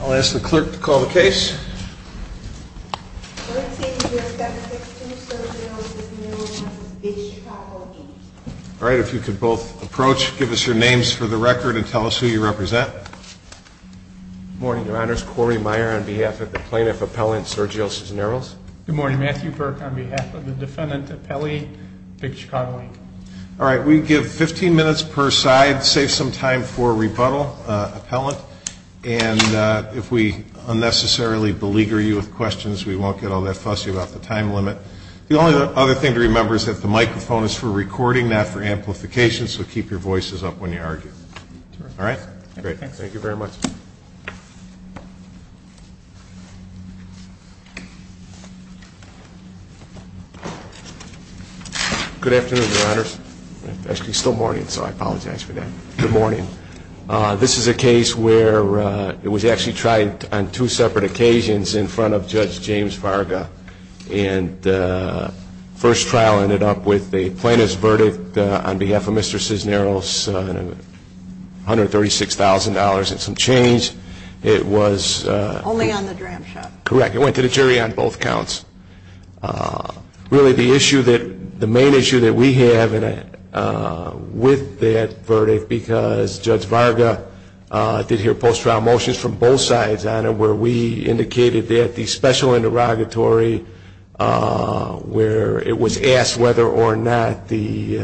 I'll ask the clerk to call the case. All right, if you could both approach, give us your names for the record, and tell us who you represent. Good morning, your honors. Corey Meyer on behalf of the plaintiff appellant, Sergio Cinsneros. Good morning. Matthew Burke on behalf of the defendant appellee, Big Chicago, Inc. All right, we give 15 minutes per side. Save some time for rebuttal, appellant. And if we unnecessarily beleaguer you with questions, we won't get all that fussy about the time limit. The only other thing to remember is that the microphone is for recording, not for amplification, so keep your voices up when you argue. All right? Great. Thank you very much. Good afternoon, your honors. Actually, it's still morning, so I apologize for that. Good morning. This is a case where it was actually tried on two separate occasions in front of Judge James Varga, and the first trial ended up with the plaintiff's verdict on behalf of Mr. Cinsneros, which was $136,000 and some change. It was... Only on the dram shot. Correct. It went to the jury on both counts. Really, the main issue that we have with that verdict, because Judge Varga did hear post-trial motions from both sides on it, where we indicated that the special interrogatory, where it was asked whether or not the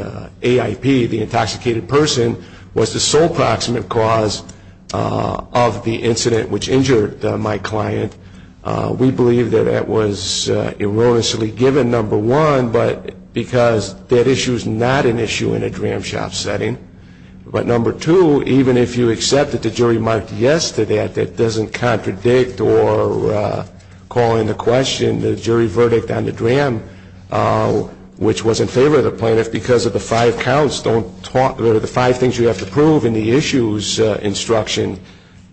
AIP, the intoxicated person, was the sole proximate cause of the incident which injured my client, we believe that that was erroneously given, number one, because that issue is not an issue in a dram shot setting. But number two, even if you accepted the jury marked yes to that, that doesn't contradict or call into question the jury verdict on the dram, which was in favor of the plaintiff, because of the five counts, the five things you have to prove in the issues instruction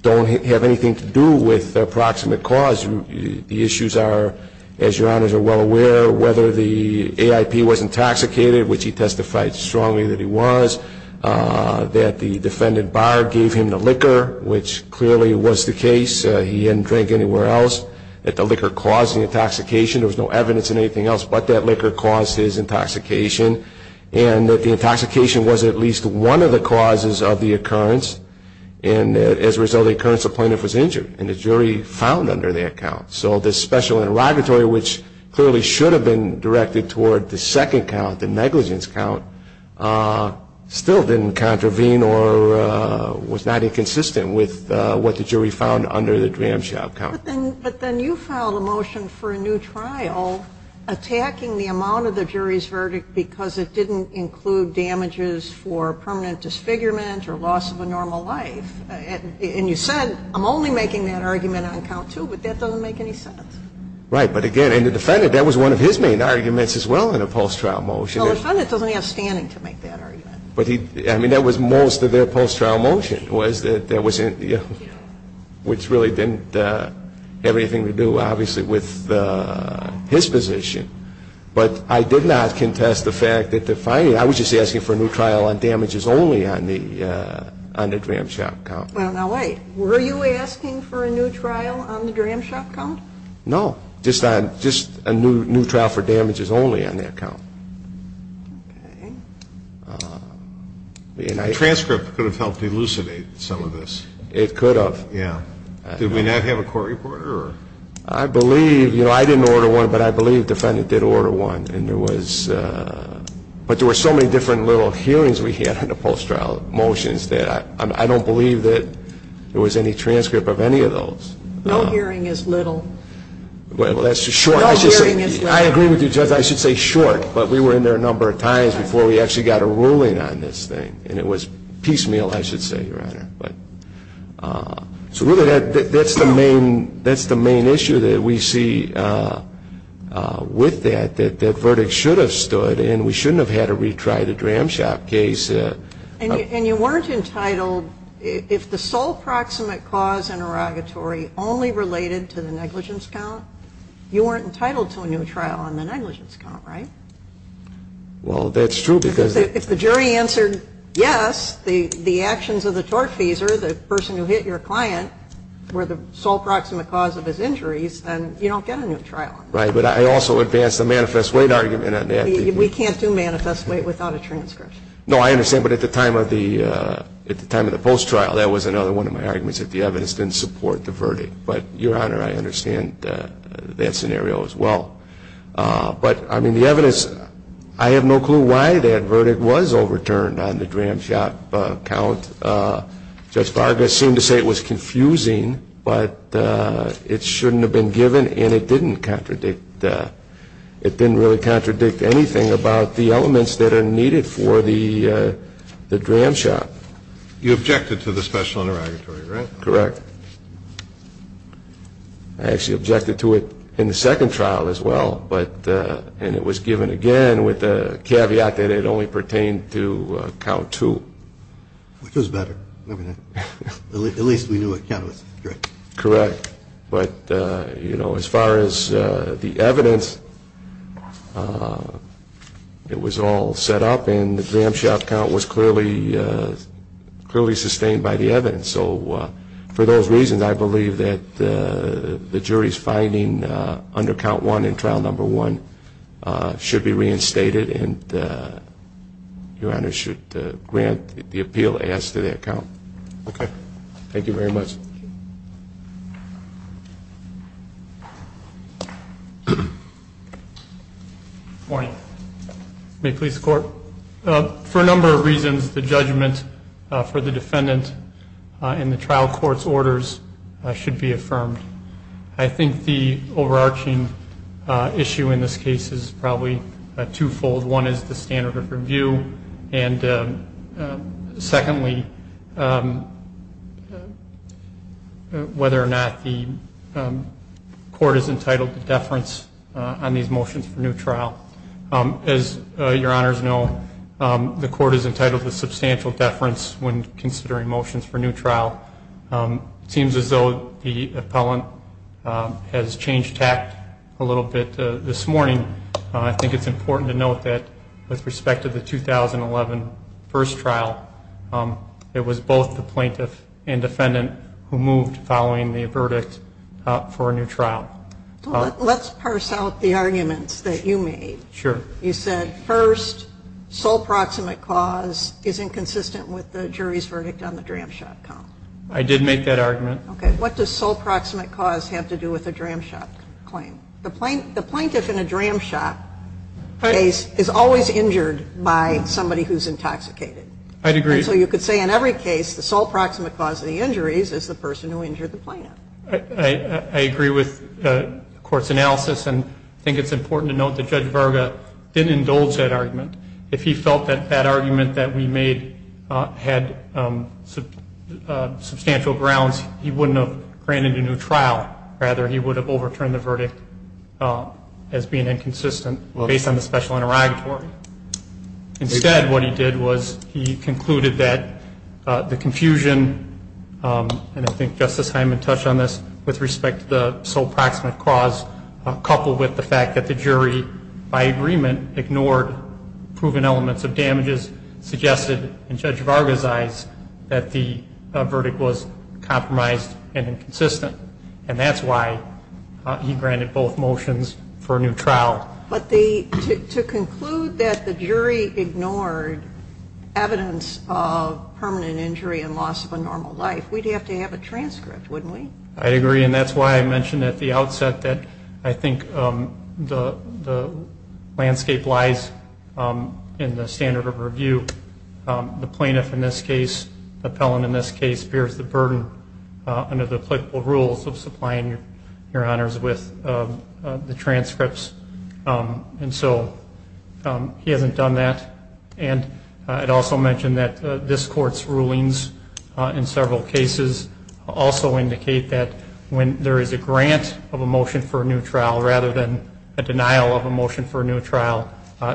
don't have anything to do with the proximate cause. The issues are, as Your Honors are well aware, whether the AIP was intoxicated, which he testified strongly that he was, that the defendant barred, gave him the liquor, which clearly was the case, he didn't drink anywhere else, that the liquor caused the intoxication, there was no evidence in anything else but that liquor caused his intoxication, and that the intoxication was at least one of the causes of the occurrence, and as a result of the occurrence, the plaintiff was injured, and the jury found under that count. So this special interrogatory, which clearly should have been directed toward the second count, the negligence count, still didn't contravene or was not inconsistent with what the jury found under the dram shot count. But then you filed a motion for a new trial attacking the amount of the jury's verdict because it didn't include damages for permanent disfigurement or loss of a normal life, and you said, I'm only making that argument on count two, but that doesn't make any sense. Right, but again, and the defendant, that was one of his main arguments as well in a post-trial motion. No, the defendant doesn't have standing to make that argument. I mean, that was most of their post-trial motion, which really didn't have anything to do, obviously, with his position, but I did not contest the fact that the finding, I was just asking for a new trial on damages only on the dram shot count. Well, now wait. Were you asking for a new trial on the dram shot count? No, just a new trial for damages only on that count. Okay. The transcript could have helped elucidate some of this. It could have. Yeah. Did we not have a court reporter or? I believe, you know, I didn't order one, but I believe the defendant did order one, and there was, but there were so many different little hearings we had in the post-trial motions that I don't believe that there was any transcript of any of those. No hearing is little. Well, that's short. No hearing is little. I agree with you, Judge, I should say short, but we were in there a number of times before we actually got a ruling on this thing, and it was piecemeal, I should say, Your Honor. So really that's the main issue that we see with that, that that verdict should have stood and we shouldn't have had to retry the dram shot case. And you weren't entitled, if the sole proximate cause interrogatory only related to the negligence count, you weren't entitled to a new trial on the negligence count, right? Well, that's true because. If the jury answered yes, the actions of the tortfeasor, the person who hit your client were the sole proximate cause of his injuries, then you don't get a new trial. Right, but I also advance the manifest weight argument on that. We can't do manifest weight without a transcript. No, I understand, but at the time of the post-trial, that was another one of my arguments that the evidence didn't support the verdict. But, Your Honor, I understand that scenario as well. But, I mean, the evidence, I have no clue why that verdict was overturned on the dram shot count. Judge Vargas seemed to say it was confusing, but it shouldn't have been given and it didn't contradict, it didn't really contradict anything about the elements that are needed for the dram shot. You objected to the special interrogatory, right? Correct. I actually objected to it in the second trial as well, and it was given again with the caveat that it only pertained to count two. Which was better, wasn't it? At least we knew what count it was. Correct, but, you know, as far as the evidence, it was all set up and the dram shot count was clearly sustained by the evidence. So, for those reasons, I believe that the jury's finding under count one in trial number one should be reinstated and Your Honor should grant the appeal as to that count. Okay. Thank you very much. Good morning. May it please the Court. For a number of reasons, the judgment for the defendant in the trial court's orders should be affirmed. I think the overarching issue in this case is probably twofold. One is the standard of review, and secondly, whether or not the court is entitled to deference on these motions for new trial. As Your Honors know, the court is entitled to substantial deference when considering motions for new trial. It seems as though the appellant has changed tact a little bit this morning. I think it's important to note that with respect to the 2011 first trial, it was both the plaintiff and defendant who moved following the verdict for a new trial. Let's parse out the arguments that you made. Sure. You said, first, sole proximate cause is inconsistent with the jury's verdict on the dram shop count. I did make that argument. Okay. What does sole proximate cause have to do with a dram shop claim? The plaintiff in a dram shop case is always injured by somebody who's intoxicated. I'd agree. And so you could say in every case the sole proximate cause of the injuries is the person who injured the plaintiff. I agree with the court's analysis, and I think it's important to note that Judge Verga didn't indulge that argument. If he felt that that argument that we made had substantial grounds, he wouldn't have granted a new trial. Rather, he would have overturned the verdict as being inconsistent based on the special interrogatory. Instead, what he did was he concluded that the confusion, and I think Justice Hyman touched on this with respect to the sole proximate cause, coupled with the fact that the jury, by agreement, ignored proven elements of damages, suggested in Judge Verga's eyes that the verdict was compromised and inconsistent. And that's why he granted both motions for a new trial. But to conclude that the jury ignored evidence of permanent injury and loss of a normal life, we'd have to have a transcript, wouldn't we? I agree, and that's why I mentioned at the outset that I think the landscape lies in the standard of review. The plaintiff in this case, the appellant in this case, under the applicable rules of supplying your honors with the transcripts. And so he hasn't done that. And I'd also mention that this Court's rulings in several cases also indicate that when there is a grant of a motion for a new trial rather than a denial of a motion for a new trial,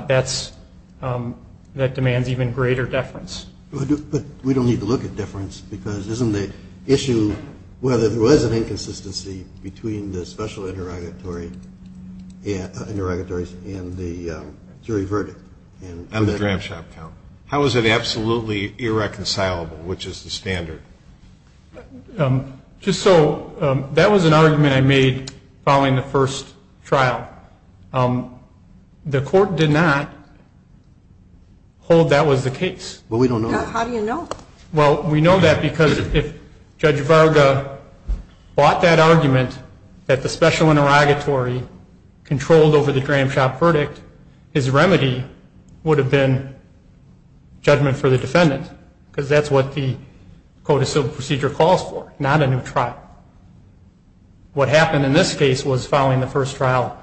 that demands even greater deference. But we don't need to look at deference because isn't the issue whether there was an inconsistency between the special interrogatories and the jury verdict? And the dram shop count. How is it absolutely irreconcilable, which is the standard? Just so that was an argument I made following the first trial. The Court did not hold that was the case. But we don't know. How do you know? Well, we know that because if Judge Varga bought that argument that the special interrogatory controlled over the dram shop verdict, his remedy would have been judgment for the defendant because that's what the code of civil procedure calls for, not a new trial. What happened in this case was following the first trial,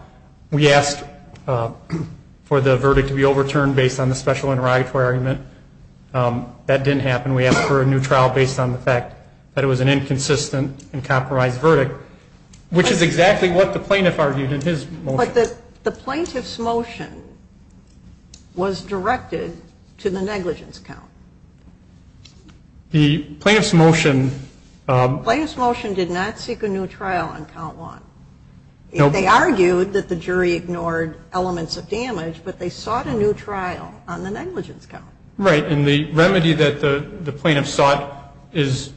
we asked for the verdict to be overturned based on the special interrogatory argument. That didn't happen. We asked for a new trial based on the fact that it was an inconsistent and compromised verdict, which is exactly what the plaintiff argued in his motion. But the plaintiff's motion was directed to the negligence count. The plaintiff's motion did not seek a new trial on count one. They argued that the jury ignored elements of damage, but they sought a new trial on the negligence count. Right. And the remedy that the plaintiff sought has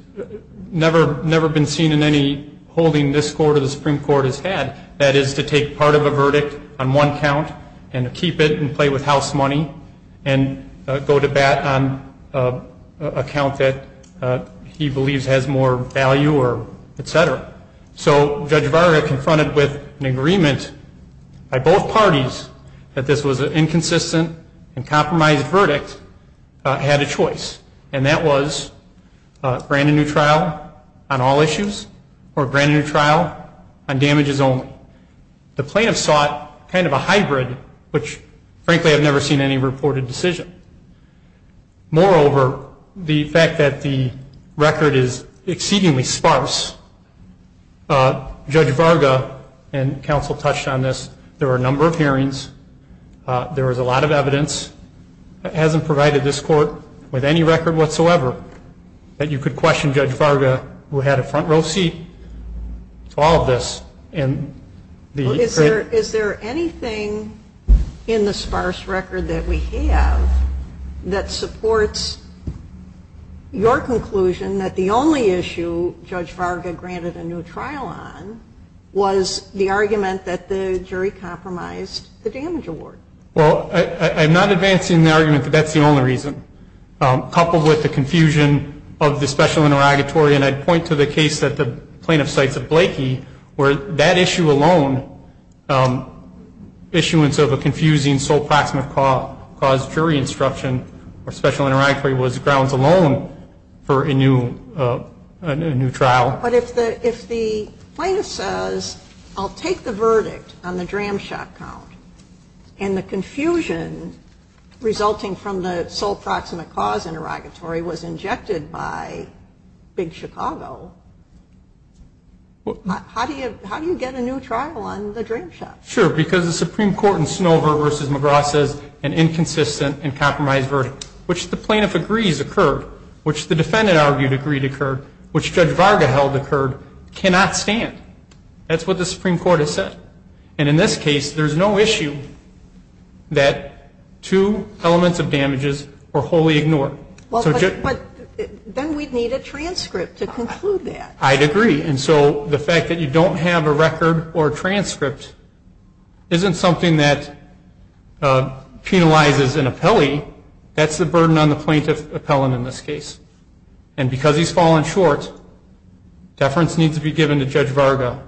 never been seen in any holding this Court or the Supreme Court has had. That is to take part of a verdict on one count and keep it and play with house money and go to bat on a count that he believes has more value or et cetera. So Judge Varga confronted with an agreement by both parties that this was an inconsistent and compromised verdict had a choice, and that was grant a new trial on all issues or grant a new trial on damages only. The plaintiff sought kind of a hybrid, which, frankly, I've never seen any reported decision. Moreover, the fact that the record is exceedingly sparse, Judge Varga and counsel touched on this, there were a number of hearings. There was a lot of evidence that hasn't provided this Court with any record whatsoever that you could question Judge Varga, who had a front row seat to all of this. Is there anything in the sparse record that we have that supports your conclusion that the only issue Judge Varga granted a new trial on was the argument that the jury compromised the damage award? Well, I'm not advancing the argument that that's the only reason. Coupled with the confusion of the special interrogatory, and I'd point to the case that the plaintiff cites at Blakey where that issue alone, issuance of a confusing sole proximate cause jury instruction or special interrogatory was grounds alone for a new trial. But if the plaintiff says, I'll take the verdict on the DRAM shot count, and the confusion resulting from the sole proximate cause interrogatory was injected by Big Chicago, how do you get a new trial on the DRAM shot? Sure, because the Supreme Court in Snover v. McGraw says an inconsistent and compromised verdict, which the plaintiff agrees occurred, which the defendant argued agreed occurred, which Judge Varga held occurred, cannot stand. That's what the Supreme Court has said. And in this case, there's no issue that two elements of damages were wholly ignored. But then we'd need a transcript to conclude that. I'd agree. And so the fact that you don't have a record or transcript isn't something that penalizes an appellee. That's the burden on the plaintiff appellant in this case. And because he's fallen short, deference needs to be given to Judge Varga.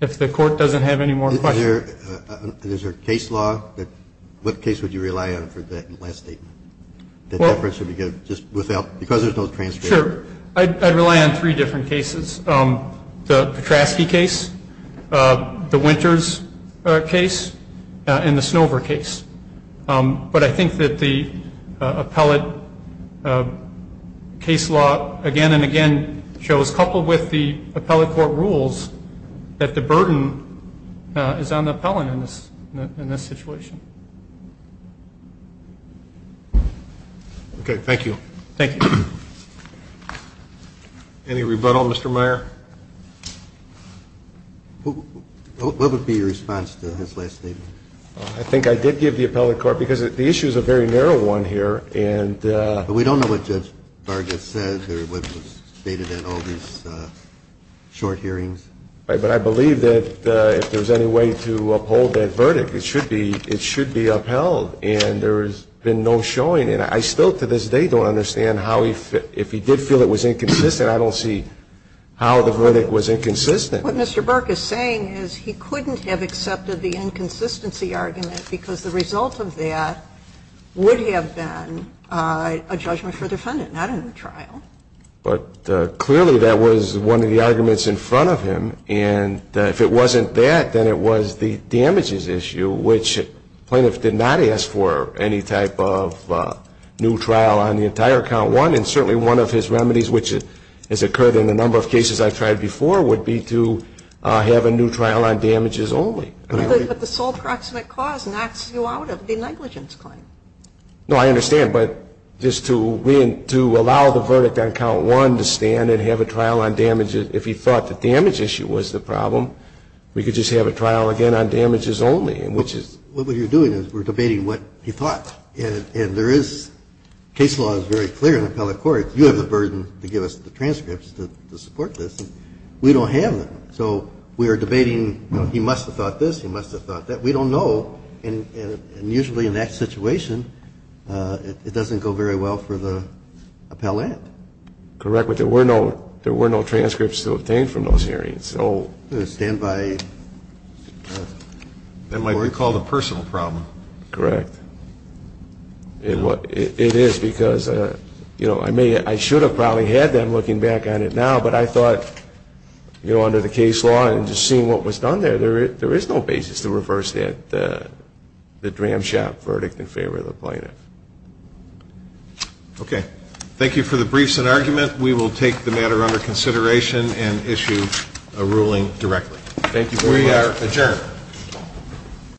If the Court doesn't have any more questions. Is there a case law that, what case would you rely on for that last statement? That deference would be given just without, because there's no transcript. Sure. I'd rely on three different cases. The Petrasky case, the Winters case, and the Snover case. But I think that the appellate case law again and again shows, coupled with the appellate court rules, that the burden is on the appellant in this situation. Okay, thank you. Thank you. Any rebuttal, Mr. Meyer? What would be your response to his last statement? I think I did give the appellate court, because the issue is a very narrow one here. We don't know what Judge Varga said or what was stated in all these short hearings. But I believe that if there's any way to uphold that verdict, it should be upheld. And there has been no showing. And I still to this day don't understand how he, if he did feel it was inconsistent, I don't see how the verdict was inconsistent. What Mr. Burke is saying is he couldn't have accepted the inconsistency argument because the result of that would have been a judgment for the defendant, not in the trial. But clearly that was one of the arguments in front of him. And if it wasn't that, then it was the damages issue, which plaintiffs did not ask for any type of new trial on the entire count one. And certainly one of his remedies, which has occurred in a number of cases I've tried before, would be to have a new trial on damages only. But the sole proximate cause knocks you out of the negligence claim. No, I understand. But just to allow the verdict on count one to stand and have a trial on damages if he thought the damage issue was the problem, we could just have a trial again on damages only, which is. What you're doing is we're debating what he thought. And there is, case law is very clear in the appellate courts. You have the burden to give us the transcripts to support this. We don't have them. So we are debating he must have thought this, he must have thought that. We don't know. And usually in that situation, it doesn't go very well for the appellate. Correct. But there were no transcripts to obtain from those hearings. So stand by. That might be called a personal problem. Correct. It is because, you know, I should have probably had them looking back on it now. But I thought, you know, under the case law and just seeing what was done there, there is no basis to reverse that, the Dram Shop verdict in favor of the plaintiff. Okay. Thank you for the briefs and argument. We will take the matter under consideration and issue a ruling directly. Thank you very much. We are adjourned.